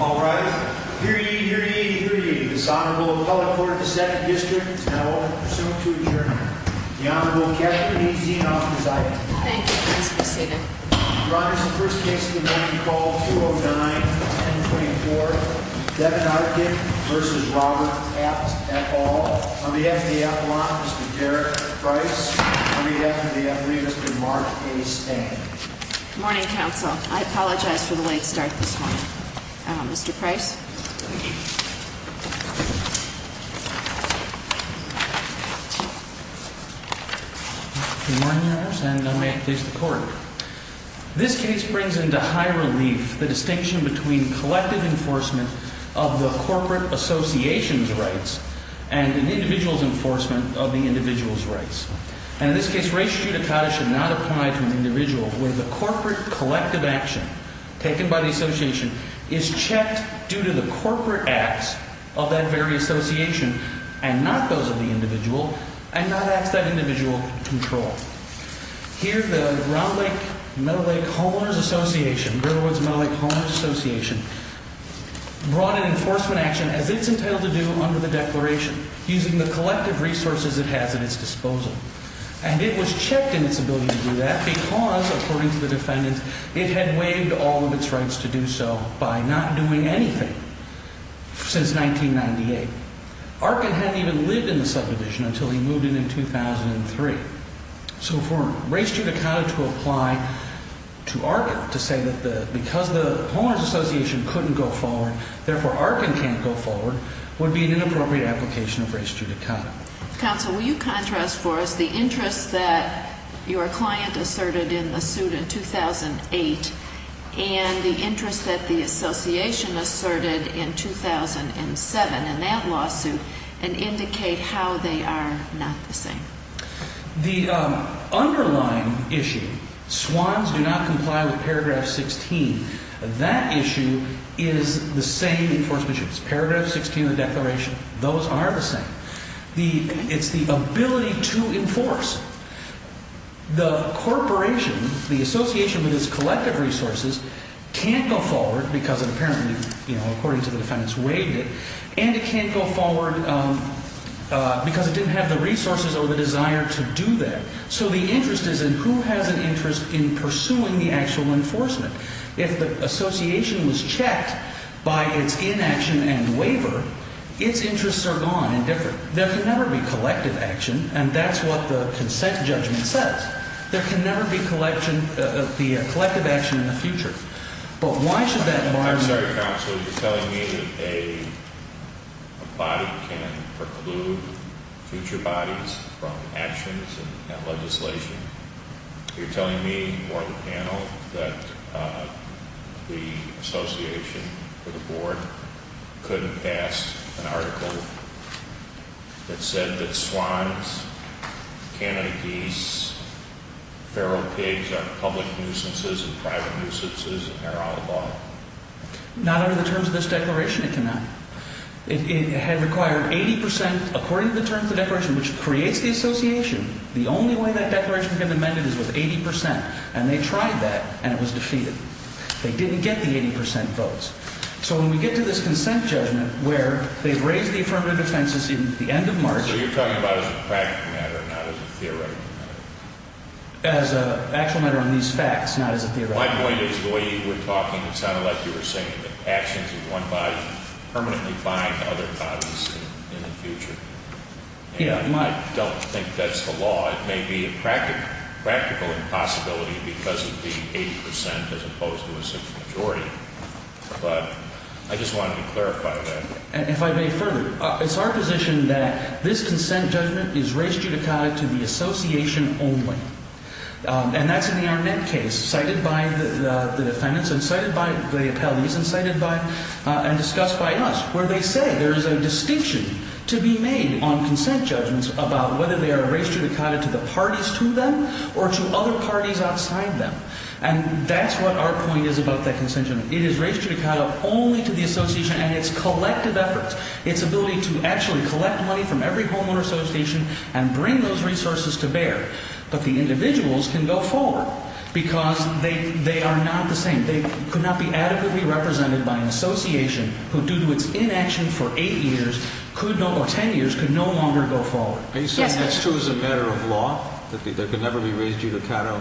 All rise. Hear ye, hear ye, hear ye. This Honorable Appellate Court of the 2nd District is now open for submit to adjournment. The Honorable Catherine E. Zinoff is item. Thank you, Christmas Eve. Your Honor, this is the first case of the morning. Call 209-1024. Devin Arkin v. Robert F. Ball. On behalf of the Appalachians, Mr. Derek Price. On behalf of the Athenians, Mr. Mark A. Stang. Good morning, counsel. I apologize for the late start this morning. Mr. Price. Good morning, Your Honor, and may it please the Court. This case brings into high relief the distinction between collective enforcement of the corporate association's rights and an individual's enforcement of the individual's rights. And in this case, res judicata should not apply to an individual where the corporate collective action taken by the association is checked due to the corporate acts of that very association and not those of the individual, and not acts that individual control. Here, the Ground Lake-Meadow Lake Homeowners Association, Greater Woods-Meadow Lake Homeowners Association, brought an enforcement action as it's entitled to do under the Declaration, using the collective resources it has at its disposal. And it was checked in its ability to do that because, according to the defendants, it had waived all of its rights to do so by not doing anything since 1998. Arkin hadn't even lived in the subdivision until he moved in in 2003. So for res judicata to apply to Arkin to say that because the Homeowners Association couldn't go forward, therefore Arkin can't go forward, would be an inappropriate application of res judicata. Counsel, will you contrast for us the interest that your client asserted in the suit in 2008 and the interest that the association asserted in 2007 in that lawsuit and indicate how they are not the same? The underlying issue, swans do not comply with paragraph 16, that issue is the same enforcement issues. Paragraph 16 of the Declaration, those are the same. It's the ability to enforce. The corporation, the association with its collective resources, can't go forward because it apparently, according to the defendants, waived it, and it can't go forward because it didn't have the resources or the desire to do that. So the interest is in who has an interest in pursuing the actual enforcement. If the association was checked by its inaction and waiver, its interests are gone and different. There can never be collective action, and that's what the consent judgment says. There can never be collective action in the future. But why should that bar... I'm sorry, counsel, you're telling me that a body can preclude future bodies from actions and legislation. You're telling me or the panel that the association or the board couldn't pass an article that said that swans, Canada geese, feral pigs are public nuisances and private nuisances and are outlawed. Not under the terms of this Declaration, it cannot. It had required 80%, according to the terms of the Declaration, which creates the association. The only way that Declaration can be amended is with 80%, and they tried that, and it was defeated. They didn't get the 80% votes. So when we get to this consent judgment where they've raised the affirmative defense in the end of March... So you're talking about it as a practical matter, not as a theoretical matter. As an actual matter on these facts, not as a theoretical matter. My point is the way you were talking, it sounded like you were saying that actions of one body permanently bind other bodies in the future. I don't think that's the law. It may be a practical impossibility because of the 80% as opposed to a simple majority. But I just wanted to clarify that. If I may further, it's our position that this consent judgment is raised judicata to the association only. And that's in the Arnett case, cited by the defendants and cited by the appellees and discussed by us, where they say there is a distinction to be made on consent judgments about whether they are raised judicata to the parties to them or to other parties outside them. And that's what our point is about that consent judgment. It is raised judicata only to the association and its collective efforts, its ability to actually collect money from every homeowner association and bring those resources to bear. But the individuals can go forward because they are not the same. They could not be adequately represented by an association who, due to its inaction for eight years, or 10 years, could no longer go forward. Are you saying that's true as a matter of law, that they could never be raised judicata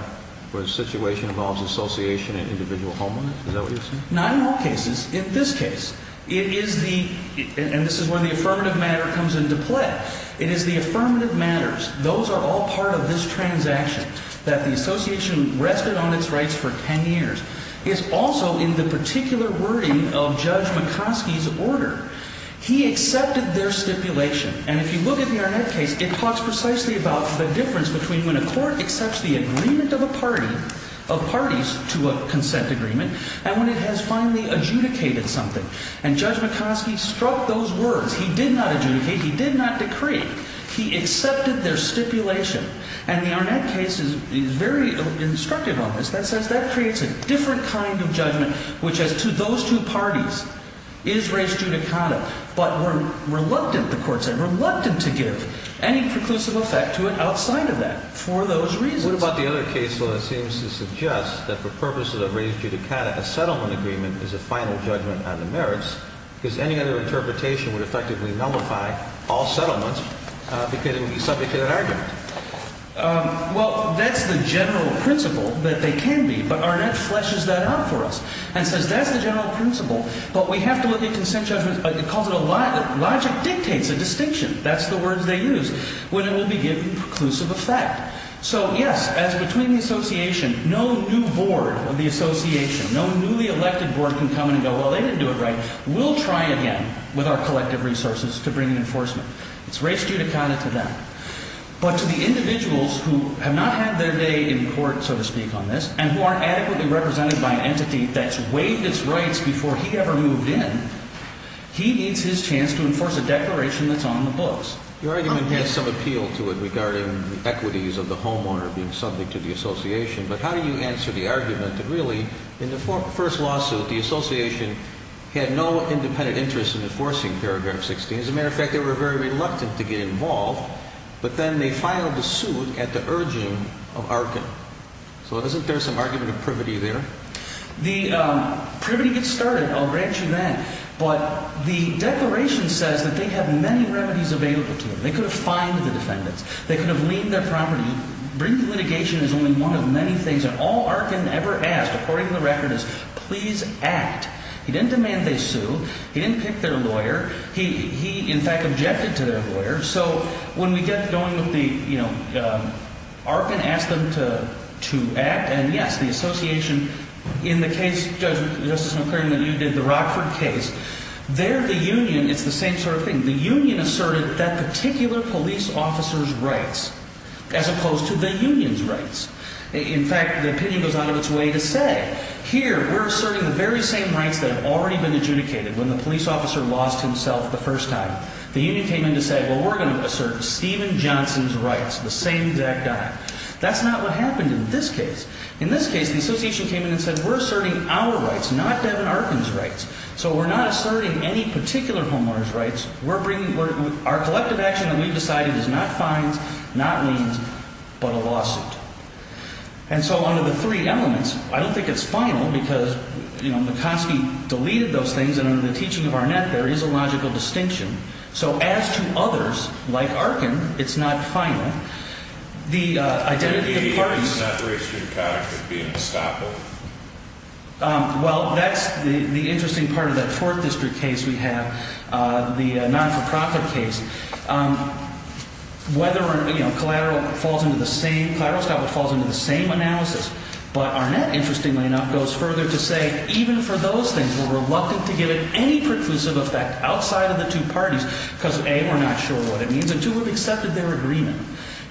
where the situation involves association and individual homeowners? Is that what you're saying? Not in all cases. In this case, it is the – and this is where the affirmative matter comes into play – it is the affirmative matters, those are all part of this transaction, that the association rested on its rights for 10 years. It's also in the particular wording of Judge McCoskey's order. He accepted their stipulation. And if you look at the Arnett case, it talks precisely about the difference between when a court accepts the agreement of a party – of parties to a consent agreement – and when it has finally adjudicated something. And Judge McCoskey struck those words. He did not adjudicate. He did not decree. He accepted their stipulation. And the Arnett case is very instructive on this. That says that creates a different kind of judgment, which is to those two parties is raised judicata, but were reluctant, the court said, reluctant to give any preclusive effect to it outside of that for those reasons. What about the other case, though, that seems to suggest that for purposes of raised judicata, a settlement agreement is a final judgment on the merits because any other interpretation would effectively nullify all settlements because it would be subject to that argument? Well, that's the general principle that they can be, but Arnett fleshes that out for us and says that's the general principle, but we have to look at consent judgments. It calls it a – logic dictates a distinction. That's the words they use when it will be given preclusive effect. So, yes, as between the association, no new board of the association, no newly elected board can come in and go, well, they didn't do it right. We'll try again with our collective resources to bring an enforcement. It's raised judicata to them. But to the individuals who have not had their day in court, so to speak, on this and who aren't adequately represented by an entity that's waived its rights before he ever moved in, he needs his chance to enforce a declaration that's on the books. Your argument has some appeal to it regarding the equities of the homeowner being subject to the association, but how do you answer the argument that really in the first lawsuit, the association had no independent interest in enforcing paragraph 16? As a matter of fact, they were very reluctant to get involved, but then they filed the suit at the urging of Arkin. So isn't there some argument of privity there? The privity gets started, I'll grant you that. But the declaration says that they have many remedies available to them. They could have fined the defendants. They could have leased their property. Bringing litigation is only one of many things, and all Arkin ever asked, according to the record, is please act. He didn't demand they sue. He didn't pick their lawyer. He, in fact, objected to their lawyer. So when we get going with the, you know, Arkin asked them to act, and yes, the association in the case, Justice McClain, that you did, the Rockford case, they're the union. It's the same sort of thing. The union asserted that particular police officer's rights as opposed to the union's rights. In fact, the opinion goes out of its way to say, here, we're asserting the very same rights that have already been adjudicated when the police officer lost himself the first time. The union came in to say, well, we're going to assert Stephen Johnson's rights, the same exact time. That's not what happened in this case. In this case, the association came in and said, we're asserting our rights, not Devin Arkin's rights. So we're not asserting any particular homeowner's rights. We're bringing, our collective action that we've decided is not fines, not liens, but a lawsuit. And so under the three elements, I don't think it's final because, you know, McCoskey deleted those things, and under the teaching of Arnett, there is a logical distinction. So as to others, like Arkin, it's not final. The identity of parties. The separation of conduct would be unstoppable. Well, that's the interesting part of that fourth district case we have, the non-for-profit case. Whether or not, you know, collateral falls into the same analysis. But Arnett, interestingly enough, goes further to say, even for those things, we're reluctant to give it any preclusive effect outside of the two parties because, A, we're not sure what it means, and two, we've accepted their agreement.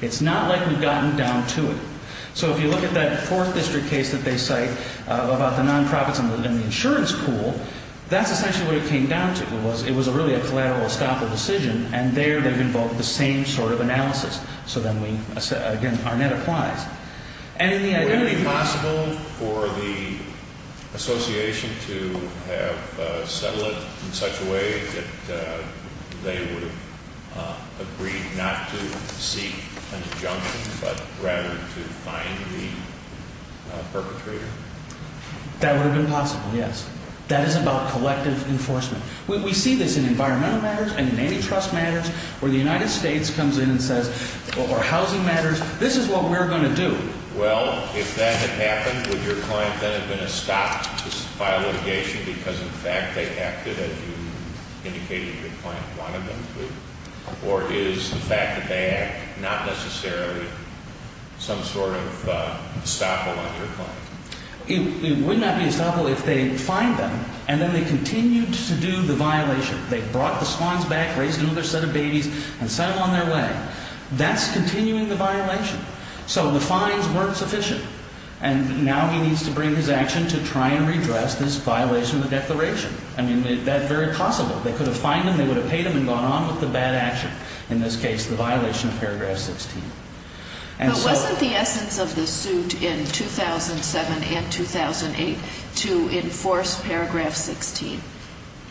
It's not like we've gotten down to it. So if you look at that fourth district case that they cite about the non-profits and the insurance pool, that's essentially what it came down to. It was really a collateral, unstoppable decision, and there they've invoked the same sort of analysis. So then we, again, Arnett applies. Would it have been possible for the association to have settled it in such a way that they would have agreed not to seek an injunction but rather to find the perpetrator? That would have been possible, yes. That is about collective enforcement. We see this in environmental matters and in antitrust matters where the United States comes in and says, or housing matters, this is what we're going to do. Well, if that had happened, would your client then have been estopped by litigation because, in fact, they acted as you indicated your client wanted them to? Or is the fact that they act not necessarily some sort of estoppel on your client? It would not be estoppel if they find them and then they continued to do the violation. They brought the swans back, raised another set of babies, and sent them on their way. That's continuing the violation. So the fines weren't sufficient, and now he needs to bring his action to try and redress this violation of the declaration. I mean, that's very possible. They could have fined him, they would have paid him and gone on with the bad action, in this case the violation of paragraph 16. But wasn't the essence of the suit in 2007 and 2008 to enforce paragraph 16?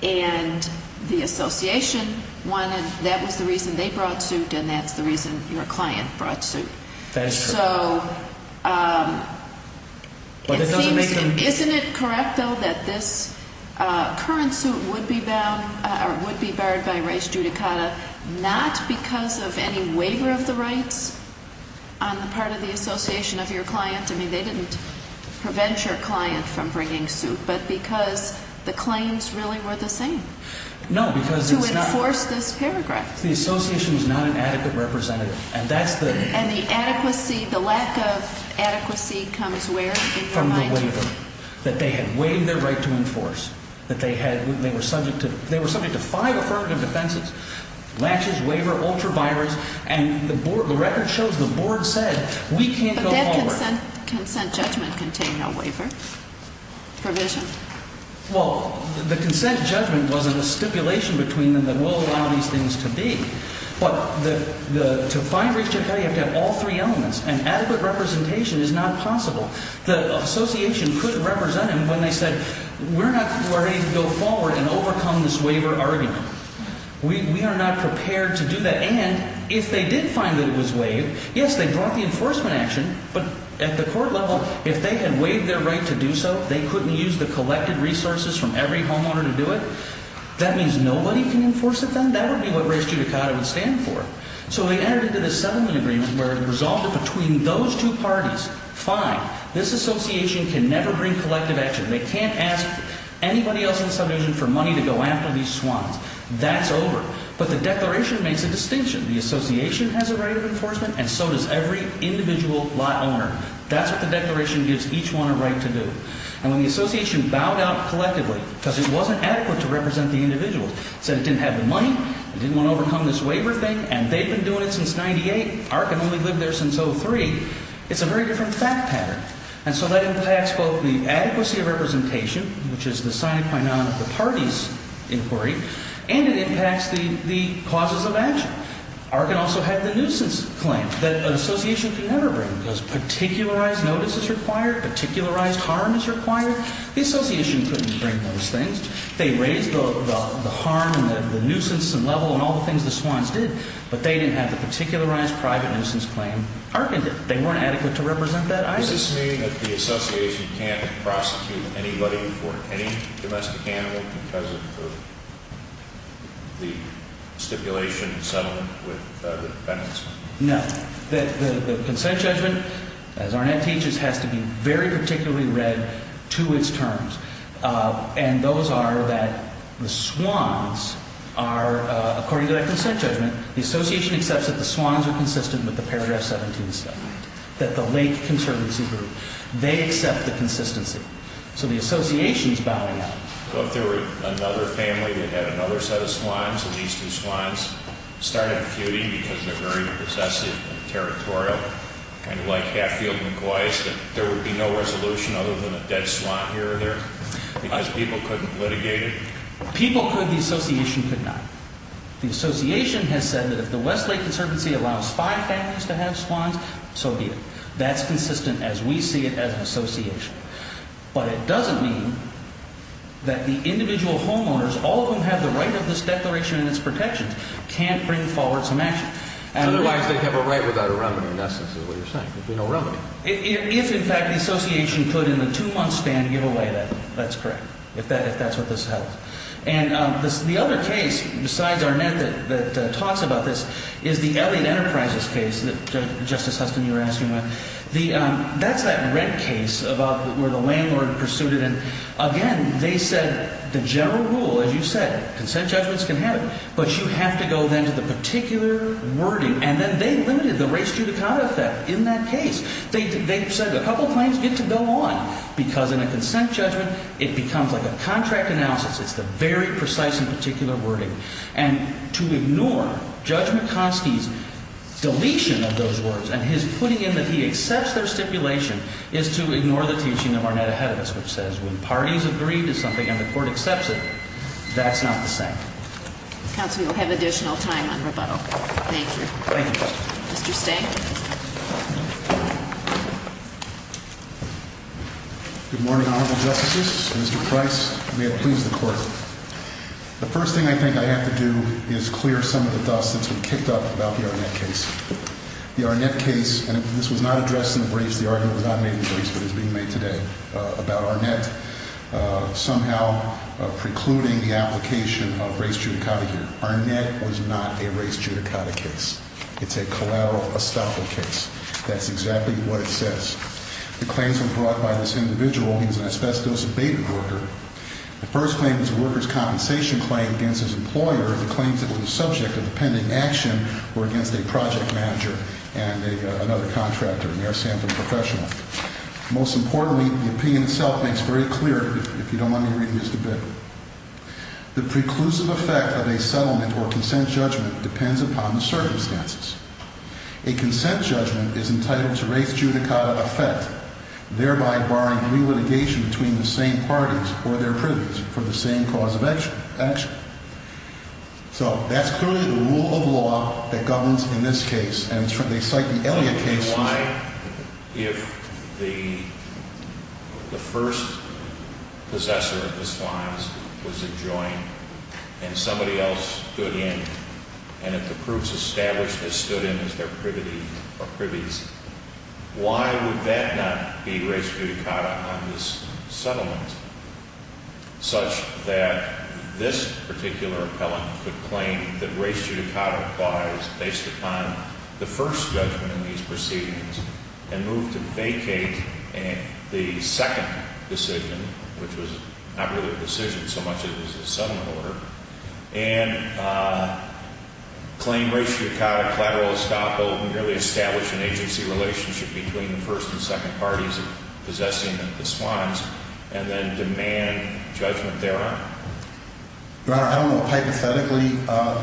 And the association wanted, that was the reason they brought suit and that's the reason your client brought suit. That is true. Isn't it correct, though, that this current suit would be barred by race judicata not because of any waiver of the rights on the part of the association of your client? I mean, they didn't prevent your client from bringing suit, but because the claims really were the same. No, because it's not. To enforce this paragraph. The association is not an adequate representative, and that's the. And the adequacy, the lack of adequacy comes where in your mind? From the waiver. That they had waived their right to enforce. That they had, they were subject to, they were subject to five affirmative defenses. Lashes, waiver, ultra vires, and the board, the record shows the board said we can't go forward. But that consent judgment contained no waiver provision. Well, the consent judgment wasn't a stipulation between them that we'll allow these things to be. But to find race judicata, you have to have all three elements. And adequate representation is not possible. The association couldn't represent them when they said we're not ready to go forward and overcome this waiver argument. We are not prepared to do that. And if they did find that it was waived, yes, they brought the enforcement action. But at the court level, if they had waived their right to do so, they couldn't use the collected resources from every homeowner to do it? That means nobody can enforce it then? That would be what race judicata would stand for. So they entered into this settlement agreement where it resulted between those two parties. Fine. This association can never bring collective action. They can't ask anybody else in the subdivision for money to go after these swans. That's over. But the declaration makes a distinction. The association has a right of enforcement and so does every individual lot owner. That's what the declaration gives each one a right to do. And when the association bowed out collectively because it wasn't adequate to represent the individuals, said it didn't have the money, didn't want to overcome this waiver thing, and they've been doing it since 98, Arkin only lived there since 03, it's a very different fact pattern. And so that impacts both the adequacy of representation, which is the sine qua non of the parties' inquiry, and it impacts the causes of action. Arkin also had the nuisance claim that an association can never bring because particularized notice is required, particularized harm is required. The association couldn't bring those things. They raised the harm and the nuisance level and all the things the swans did, but they didn't have the particularized private nuisance claim. Arkin did. They weren't adequate to represent that either. Does this mean that the association can't prosecute anybody for any domestic animal because of the stipulation and settlement with the defendants? No. The consent judgment, as Arnett teaches, has to be very particularly read to its terms. And those are that the swans are, according to that consent judgment, the association accepts that the swans are consistent with the Paragraph 17 settlement, that the Lake Conservancy Group, they accept the consistency. So the association is bowing out. So if there were another family that had another set of swans, and these two swans started a feud because they're very possessive and territorial, kind of like Hatfield and Gweiss, that there would be no resolution other than a dead swan here or there because people couldn't litigate it? People could. The association could not. The association has said that if the West Lake Conservancy allows five families to have swans, so be it. That's consistent as we see it as an association. But it doesn't mean that the individual homeowners, all of whom have the right of this declaration and its protections, can't bring forward some action. Otherwise they'd have a right without a remedy, in essence, is what you're saying. There'd be no remedy. If, in fact, the association could in the two-month span give away that, that's correct, if that's what this held. And the other case, besides Arnett, that talks about this, is the Elliott Enterprises case that Justice Huston, you were asking about. That's that red case about where the landlord pursued it. And, again, they said the general rule, as you said, consent judgments can happen, but you have to go then to the particular wording. And then they limited the race judicata effect in that case. They said a couple of times, get to go on, because in a consent judgment it becomes like a contract analysis. It's the very precise and particular wording. And to ignore Judge McCoskey's deletion of those words and his putting in that he accepts their stipulation is to ignore the teaching of Arnett ahead of us, which says when parties agree to something and the court accepts it, that's not the same. Counsel, you'll have additional time on rebuttal. Thank you. Thank you, Justice. Mr. Stang. Good morning, Honorable Justices. Mr. Price, may it please the Court. The first thing I think I have to do is clear some of the dust that's been kicked up about the Arnett case. The Arnett case, and this was not addressed in the briefs, the argument was not made in the briefs, but is being made today about Arnett somehow precluding the application of race judicata here. Arnett was not a race judicata case. It's a collateral estoppel case. That's exactly what it says. The claims were brought by this individual. He was an asbestos-abated worker. The first claim was a worker's compensation claim against his employer. The claims that were the subject of the pending action were against a project manager and another contractor, an air sample professional. Most importantly, the opinion itself makes very clear, if you don't mind me reading this a bit, the preclusive effect of a settlement or consent judgment depends upon the circumstances. A consent judgment is entitled to race judicata effect, thereby barring re-litigation between the same parties or their privies for the same cause of action. So that's clearly the rule of law that governs in this case, and they cite the Elliott case. Why, if the first possessor of this client was a joint and somebody else stood in and if the proofs established this stood in as their privity or privies, why would that not be race judicata on this settlement, such that this particular appellant could claim that race judicata applies based upon the first judgment in these proceedings and move to vacate the second decision, which was not really a decision so much as a settlement order, and claim race judicata collateral estoppel, merely establish an agency relationship between the first and second parties possessing the swans, and then demand judgment thereon? Your Honor, I don't know. Hypothetically,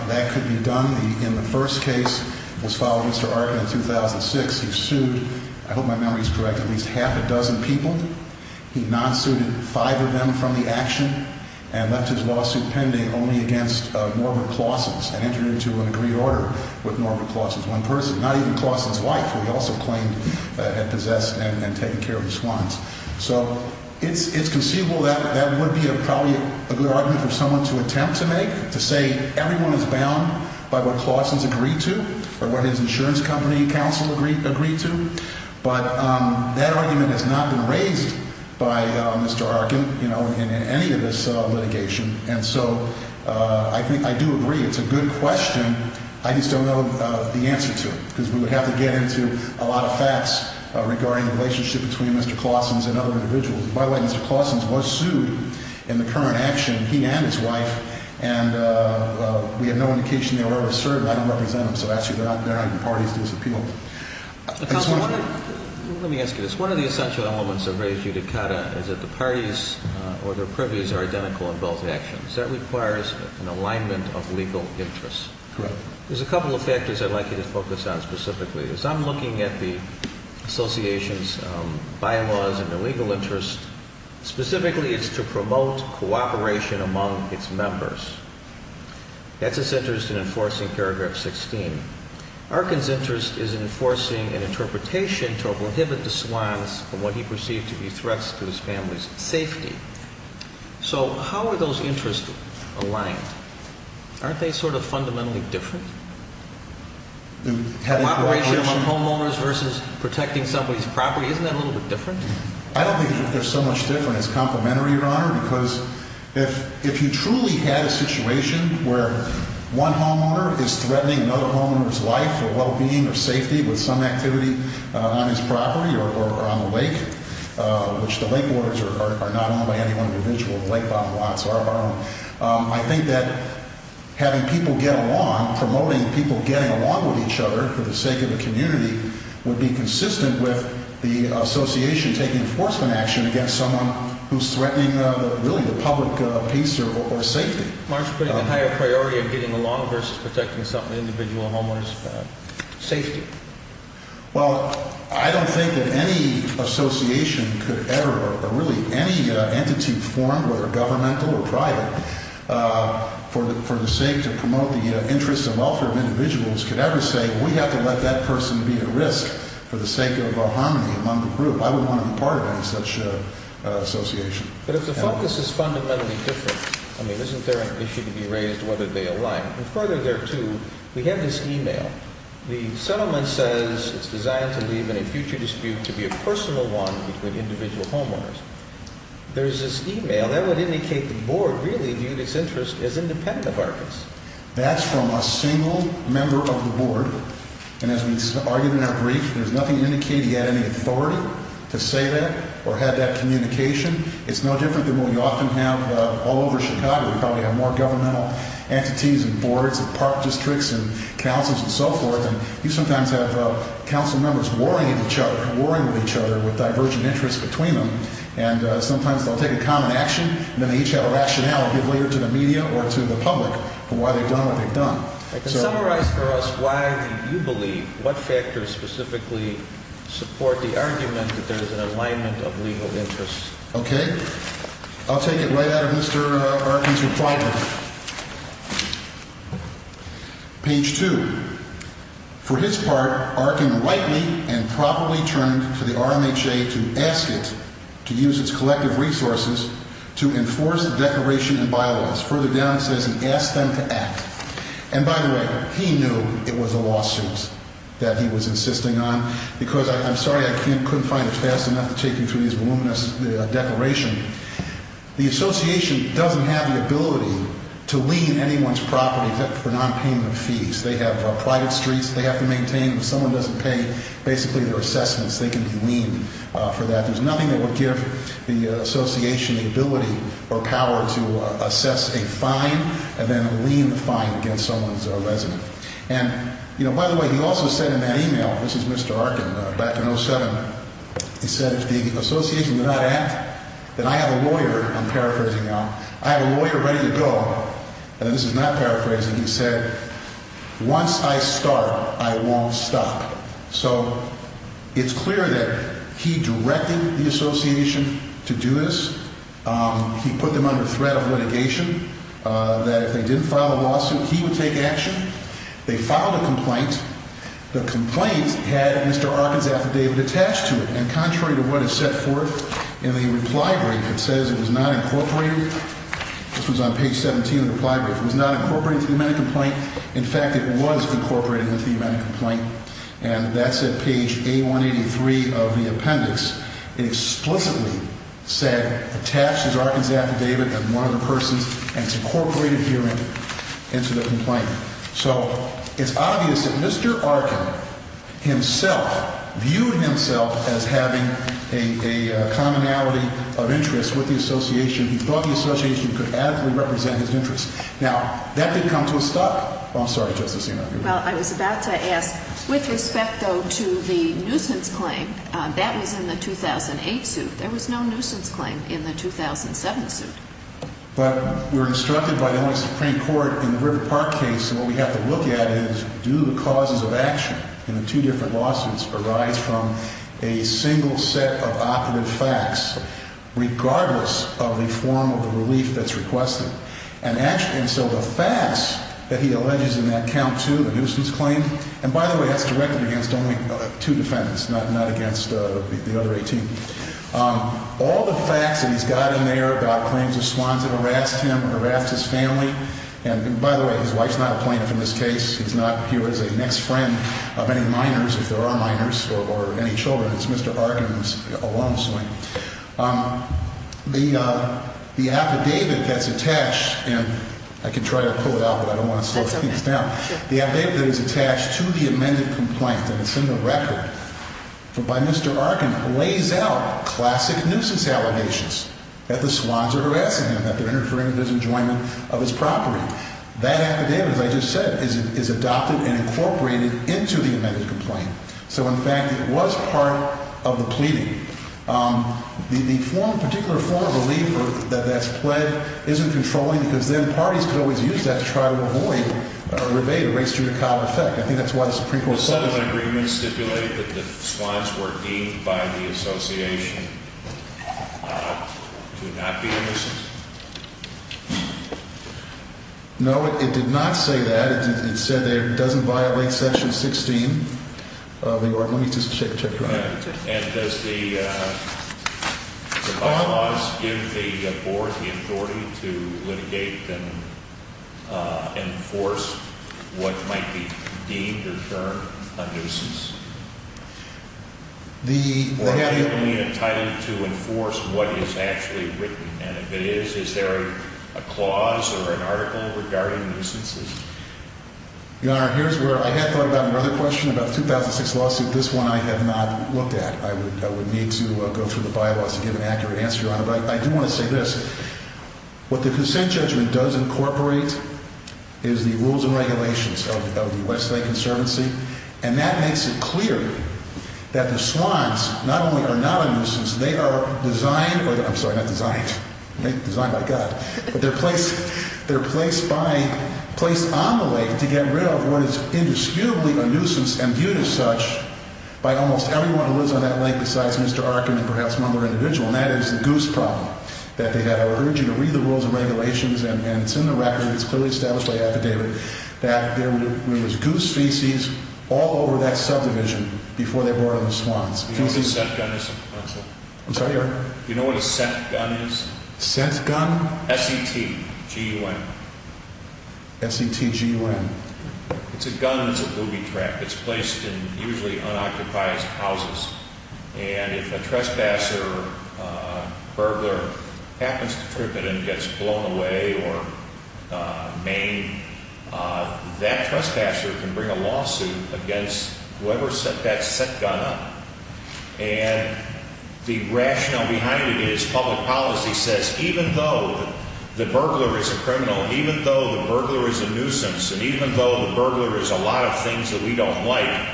that could be done. In the first case, it was filed with Mr. Arkin in 2006. He sued, I hope my memory is correct, at least half a dozen people. He non-suited five of them from the action and left his lawsuit pending only against Norbert Claussens and entered into an agreed order with Norbert Claussens, one person, not even Claussens' wife, who he also claimed had possessed and taken care of the swans. So it's conceivable that that would be probably a good argument for someone to attempt to make, to say everyone is bound by what Claussens agreed to or what his insurance company counsel agreed to. But that argument has not been raised by Mr. Arkin in any of this litigation. And so I think I do agree it's a good question. I just don't know the answer to it because we would have to get into a lot of facts regarding the relationship between Mr. Claussens and other individuals. By the way, Mr. Claussens was sued in the current action, he and his wife, and we have no indication they were ever served by any representative. So actually, they're not even parties to this appeal. Let me ask you this. One of the essential elements of Res Judicata is that the parties or their privies are identical in both actions. That requires an alignment of legal interests. Correct. There's a couple of factors I'd like you to focus on specifically. As I'm looking at the association's bylaws and the legal interest, specifically it's to promote cooperation among its members. That's its interest in enforcing paragraph 16. Arkin's interest is in enforcing an interpretation to prohibit the swans from what he perceived to be threats to his family's safety. So how are those interests aligned? Aren't they sort of fundamentally different? Cooperation among homeowners versus protecting somebody's property, isn't that a little bit different? I don't think they're so much different as complementary, Your Honor, because if you truly had a situation where one homeowner is threatening another homeowner's life or well-being or safety with some activity on his property or on the lake, which the lake waters are not owned by any one individual, the lake bottom lots are owned, I think that having people get along, promoting people getting along with each other for the sake of the community would be consistent with the association taking enforcement action against someone who's threatening really the public peace or safety. Mark's putting the higher priority of getting along versus protecting some individual homeowner's safety. Well, I don't think that any association could ever, or really any entity formed, whether governmental or private, for the sake to promote the interests and welfare of individuals could ever say, we have to let that person be at risk for the sake of harmony among the group. I wouldn't want to be part of any such association. But if the focus is fundamentally different, I mean, isn't there an issue to be raised whether they align? And further there, too, we have this e-mail. The settlement says it's designed to leave in a future dispute to be a personal one between individual homeowners. There's this e-mail that would indicate the board really viewed its interest as independent of Argus. That's from a single member of the board. And as we argued in our brief, there's nothing to indicate he had any authority to say that or had that communication. It's no different than what we often have all over Chicago. We probably have more governmental entities and boards and park districts and councils and so forth. And you sometimes have council members warring with each other, warring with each other with divergent interests between them. And sometimes they'll take a common action, and then they each have a rationale, either to the media or to the public, for why they've done what they've done. Summarize for us why you believe, what factors specifically support the argument that there is an alignment of legal interests. Okay. I'll take it right out of Mr. Arkin's reply. Page 2. For his part, Arkin rightly and properly turned to the RMHA to ask it to use its collective resources to enforce a declaration in bylaws. Further down it says he asked them to act. And by the way, he knew it was a lawsuit that he was insisting on, because I'm sorry I couldn't find it fast enough to take you through this voluminous declaration. The association doesn't have the ability to lien anyone's property for nonpayment of fees. They have private streets they have to maintain. If someone doesn't pay basically their assessments, they can be liened for that. There's nothing that would give the association the ability or power to assess a fine and then lien the fine against someone's resident. And, you know, by the way, he also said in that email, this is Mr. Arkin back in 07, he said, if the association would not act, then I have a lawyer, I'm paraphrasing now, I have a lawyer ready to go. And this is not paraphrasing, he said, once I start, I won't stop. So it's clear that he directed the association to do this. He put them under threat of litigation, that if they didn't file a lawsuit, he would take action. They filed a complaint. The complaint had Mr. Arkin's affidavit attached to it. And contrary to what is set forth in the reply brief, it says it was not incorporated. This was on page 17 of the reply brief. It was not incorporated into the amendment complaint. In fact, it was incorporated into the amendment complaint. And that's at page A183 of the appendix. It explicitly said attached is Arkin's affidavit and one of the persons, and it's incorporated here into the complaint. So it's obvious that Mr. Arkin himself viewed himself as having a commonality of interest with the association. He thought the association could adequately represent his interests. Now, that did come to a stop. I'm sorry, Justice Sotomayor. Well, I was about to ask, with respect, though, to the nuisance claim, that was in the 2008 suit. There was no nuisance claim in the 2007 suit. But we were instructed by the Illinois Supreme Court in the River Park case, and what we have to look at is do the causes of action in the two different lawsuits arise from a single set of operative facts, regardless of the form of the relief that's requested? And so the facts that he alleges in that count, too, the nuisance claim, and by the way, that's directed against only two defendants, not against the other 18. All the facts that he's got in there about claims of swans that harassed him, harassed his family, and by the way, his wife's not a plaintiff in this case. He's not here as a next friend of any minors, if there are minors, or any children. It's Mr. Arkin alone. The affidavit that's attached, and I can try to pull it out, but I don't want to slow things down. The affidavit that is attached to the amended complaint, and it's in the record, by Mr. Arkin, lays out classic nuisance allegations that the swans are harassing him, that they're interfering with his enjoyment of his property. That affidavit, as I just said, is adopted and incorporated into the amended complaint. So, in fact, it was part of the pleading. The particular form of relief that that's pled isn't controlling, because then parties could always use that to try to avoid or evade a race judicata effect. I think that's why the Supreme Court… The settlement agreement stipulated that the swans were deemed by the association to not be a nuisance? No, it did not say that. It said that it doesn't violate Section 16 of the… Let me just check. And does the clause give the Board the authority to litigate and enforce what might be deemed or termed a nuisance? The… Or is it entitled to enforce what is actually written? And if it is, is there a clause or an article regarding nuisances? Your Honor, here's where I had thought about another question about the 2006 lawsuit. This one I have not looked at. I would need to go through the bylaws to give an accurate answer, Your Honor. But I do want to say this. What the consent judgment does incorporate is the rules and regulations of the Westlake Conservancy. And that makes it clear that the swans not only are not a nuisance, they are designed… I'm sorry, not designed. Designed by God. But they're placed on the lake to get rid of what is indisputably a nuisance and viewed as such by almost everyone who lives on that lake besides Mr. Arkin and perhaps one other individual. And that is the goose problem that they have. I would urge you to read the rules and regulations. And it's in the record. It's clearly established by affidavit that there was goose feces all over that subdivision before they brought in the swans. Do you know what a scent gun is? I'm sorry, Your Honor? Do you know what a scent gun is? Scent gun? S-E-T-G-U-N. S-E-T-G-U-N. It's a gun that's a booby trap. It's placed in usually unoccupied houses. And if a trespasser, burglar, happens to trip it and gets blown away or maimed, that trespasser can bring a lawsuit against whoever set that scent gun up. And the rationale behind it is public policy says even though the burglar is a criminal, even though the burglar is a nuisance, and even though the burglar is a lot of things that we don't like,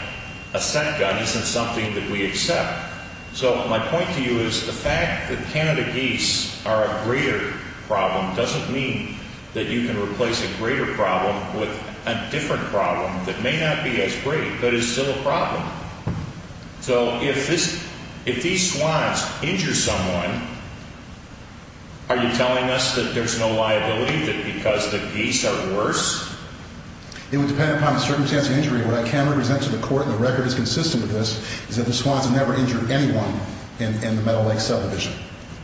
a scent gun isn't something that we accept. So my point to you is the fact that Canada geese are a greater problem doesn't mean that you can replace a greater problem with a different problem that may not be as great but is still a problem. So if these swans injure someone, are you telling us that there's no liability because the geese are worse? It would depend upon the circumstances of the injury. What I can represent to the court, and the record is consistent with this, is that the swans have never injured anyone in the Meadow Lake subdivision.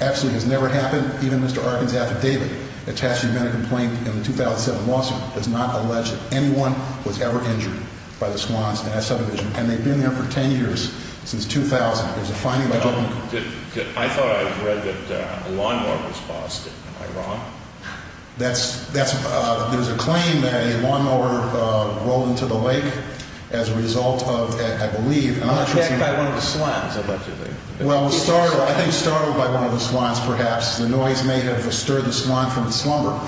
Absolutely has never happened. Even Mr. Arkin's affidavit attesting to a complaint in the 2007 lawsuit does not allege that anyone was ever injured by the swans in that subdivision. And they've been there for 10 years, since 2000. I thought I read that a lawnmower was busted. Am I wrong? There's a claim that a lawnmower rolled into the lake as a result of, I believe... It was attacked by one of the swans. Well, I think startled by one of the swans, perhaps. The noise may have disturbed the swan from the slumber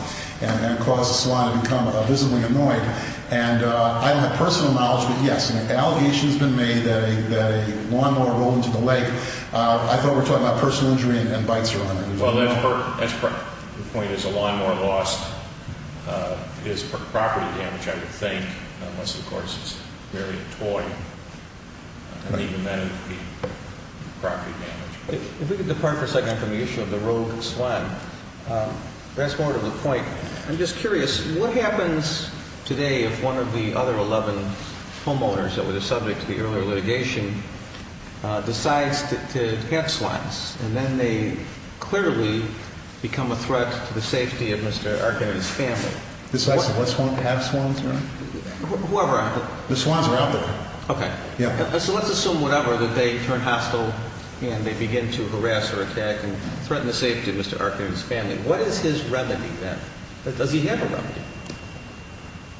and caused the swan to become visibly annoyed. And I don't have personal knowledge, but yes, an allegation has been made that a lawnmower rolled into the lake. I thought we were talking about personal injury and bites or whatever. The point is a lawnmower loss is property damage, I would think, unless of course it's merely a toy. And even then it would be property damage. If we could depart for a second from the issue of the rogue swan, that's more to the point. I'm just curious, what happens today if one of the other 11 homeowners that were the subject of the earlier litigation decides to catch swans? And then they clearly become a threat to the safety of Mr. Arkin and his family. Decides to have swans around? Whoever... The swans are out there. Okay. So let's assume whatever, that they turn hostile and they begin to harass or attack and threaten the safety of Mr. Arkin and his family. What is his remedy then? Does he have a remedy?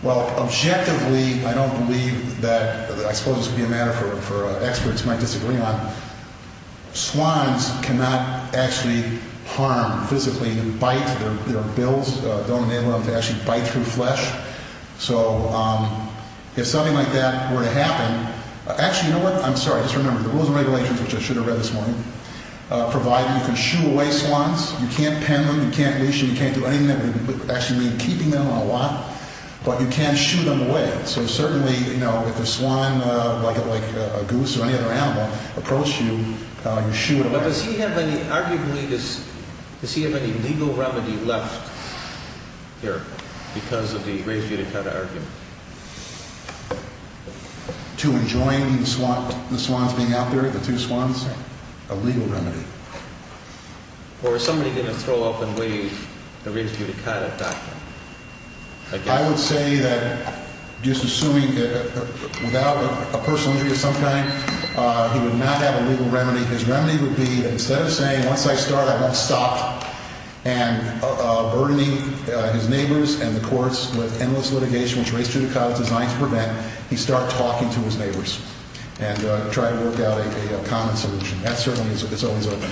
Well, objectively, I don't believe that... I suppose this would be a matter for experts who might disagree on. Swans cannot actually harm physically and bite. Their bills don't enable them to actually bite through flesh. So if something like that were to happen... Actually, you know what? I'm sorry. Just remember, the rules and regulations, which I should have read this morning, provide you can shoo away swans. You can't pin them. You can't leash them. You can't do anything that would actually mean keeping them on a lot. But you can shoo them away. So certainly, you know, if a swan, like a goose or any other animal, approached you, you shoo it away. But does he have any, arguably, does he have any legal remedy left here because of the raised butycata argument? To enjoin the swans being out there, the two swans? A legal remedy. Or is somebody going to throw up and wave the raised butycata document? I would say that just assuming without a personal injury of some kind, he would not have a legal remedy. His remedy would be that instead of saying, once I start, I won't stop, and burdening his neighbors and the courts with endless litigation, which raised butycata is designed to prevent, he start talking to his neighbors and try to work out a common solution. That certainly is open.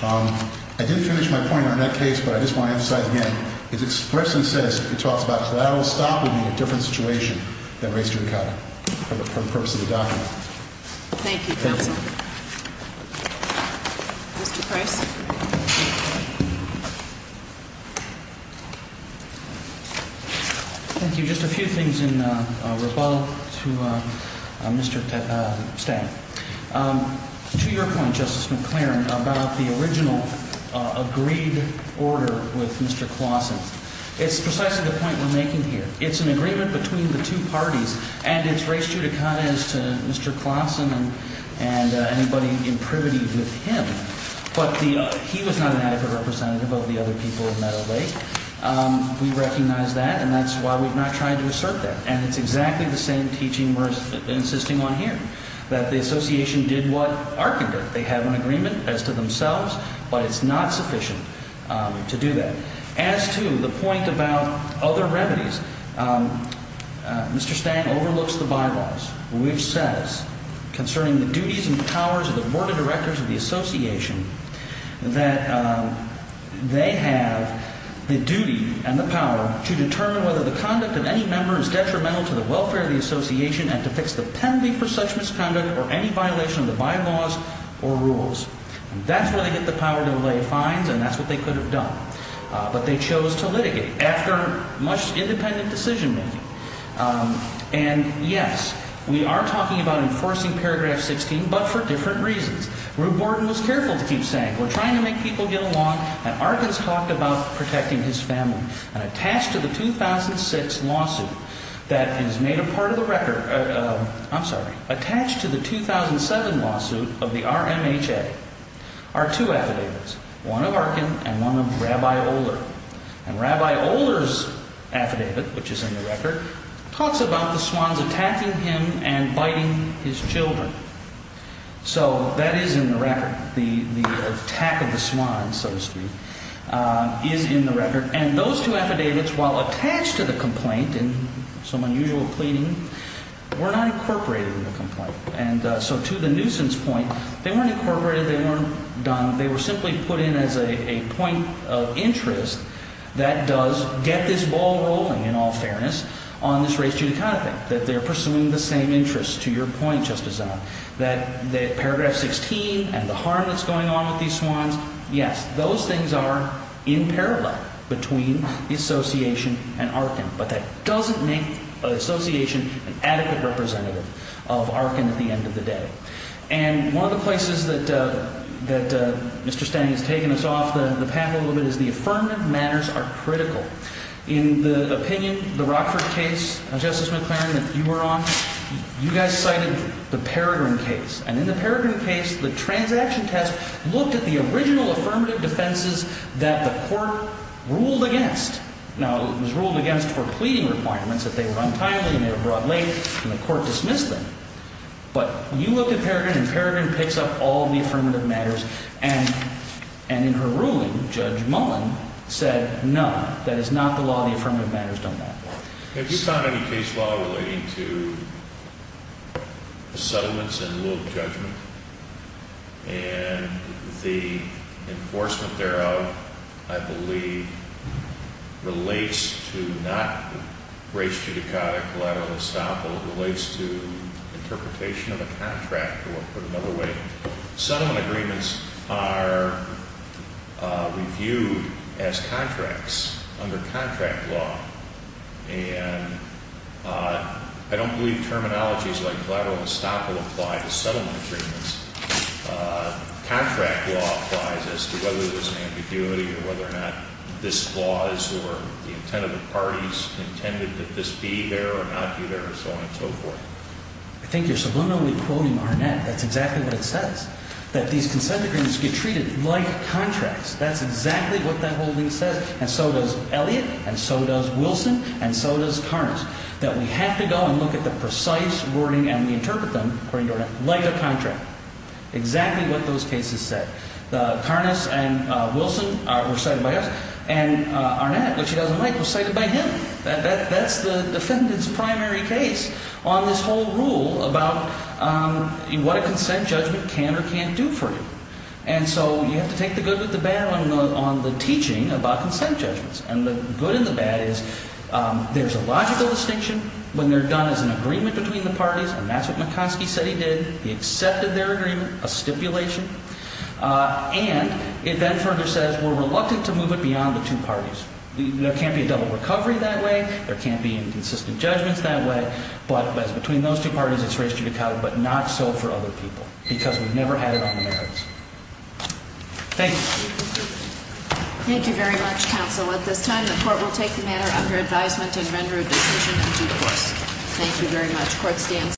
I didn't finish my point on that case, but I just want to emphasize again. It's expressed and says, it talks about, that will stop in a different situation than raised butycata for the purpose of the document. Thank you, counsel. Mr. Price. Thank you. Just a few things in rebuttal to Mr. Stang. To your point, Justice McClaren, about the original agreed order with Mr. Clausen, it's precisely the point we're making here. It's an agreement between the two parties, and it's raised butycata as to Mr. Clausen and anybody in privity with him. But he was not an adequate representative of the other people in Meadow Lake. We recognize that, and that's why we've not tried to assert that. And it's exactly the same teaching we're insisting on here, that the association did what Arkin did. They have an agreement as to themselves, but it's not sufficient to do that. As to the point about other remedies, Mr. Stang overlooks the bylaws, which says, concerning the duties and powers of the board of directors of the association, that they have the duty and the power to determine whether the conduct of any member is detrimental to the welfare of the association and to fix the penalty for such misconduct or any violation of the bylaws or rules. That's where they get the power to lay fines, and that's what they could have done. But they chose to litigate after much independent decision-making. And, yes, we are talking about enforcing paragraph 16, but for different reasons. Rube Morton was careful to keep saying, we're trying to make people get along, and Arkin's talked about protecting his family. And attached to the 2006 lawsuit that is made a part of the record, I'm sorry, attached to the 2007 lawsuit of the RMHA are two affidavits, one of Arkin and one of Rabbi Oler. And Rabbi Oler's affidavit, which is in the record, talks about the Swans attacking him and biting his children. So that is in the record. The attack of the Swans, so to speak, is in the record. And those two affidavits, while attached to the complaint in some unusual pleading, were not incorporated in the complaint. And so to the nuisance point, they weren't incorporated. They weren't done. They were simply put in as a point of interest that does get this ball rolling, in all fairness, on this race-judy kind of thing, that they're pursuing the same interests to your point, Justice Zimmerman, that paragraph 16 and the harm that's going on with these Swans, yes, those things are in parallel between the Association and Arkin. But that doesn't make the Association an adequate representative of Arkin at the end of the day. And one of the places that Mr. Standing has taken us off the path a little bit is the affirmative matters are critical. In the opinion, the Rockford case, Justice McLaren, that you were on, you guys cited the Peregrine case. And in the Peregrine case, the transaction test looked at the original affirmative defenses that the court ruled against. Now, it was ruled against for pleading requirements, that they were untimely and they were brought late, and the court dismissed them. But you looked at Peregrine, and Peregrine picks up all the affirmative matters. And in her ruling, Judge Mullen said, no, that is not the law. The affirmative matters don't matter. Have you sought any case law relating to settlements in lieu of judgment? And the enforcement thereof, I believe, relates to not race-judicata collateral estoppel. It relates to interpretation of a contract or, put another way, settlement agreements. Settlement agreements are reviewed as contracts under contract law. And I don't believe terminologies like collateral estoppel apply to settlement agreements. Contract law applies as to whether there's an ambiguity or whether or not this clause or the intent of the parties intended that this be there or not be there, and so on and so forth. I think you're subliminally quoting Arnett. That's exactly what it says, that these consent agreements get treated like contracts. That's exactly what that whole thing says, and so does Elliott, and so does Wilson, and so does Karnas, that we have to go and look at the precise wording and we interpret them, according to Arnett, like a contract. Exactly what those cases said. Karnas and Wilson were cited by us, and Arnett, which he doesn't like, was cited by him. That's the defendant's primary case on this whole rule about what a consent judgment can or can't do for you. And so you have to take the good with the bad on the teaching about consent judgments, and the good and the bad is there's a logical distinction when they're done as an agreement between the parties, and that's what McCoskey said he did. He accepted their agreement, a stipulation, and it then further says we're reluctant to move it beyond the two parties. There can't be a double recovery that way. There can't be inconsistent judgments that way, but between those two parties, it's ready to be covered, but not so for other people because we've never had it on the merits. Thank you. Thank you very much, counsel. At this time, the court will take the matter under advisement and render a decision in due course. Thank you very much.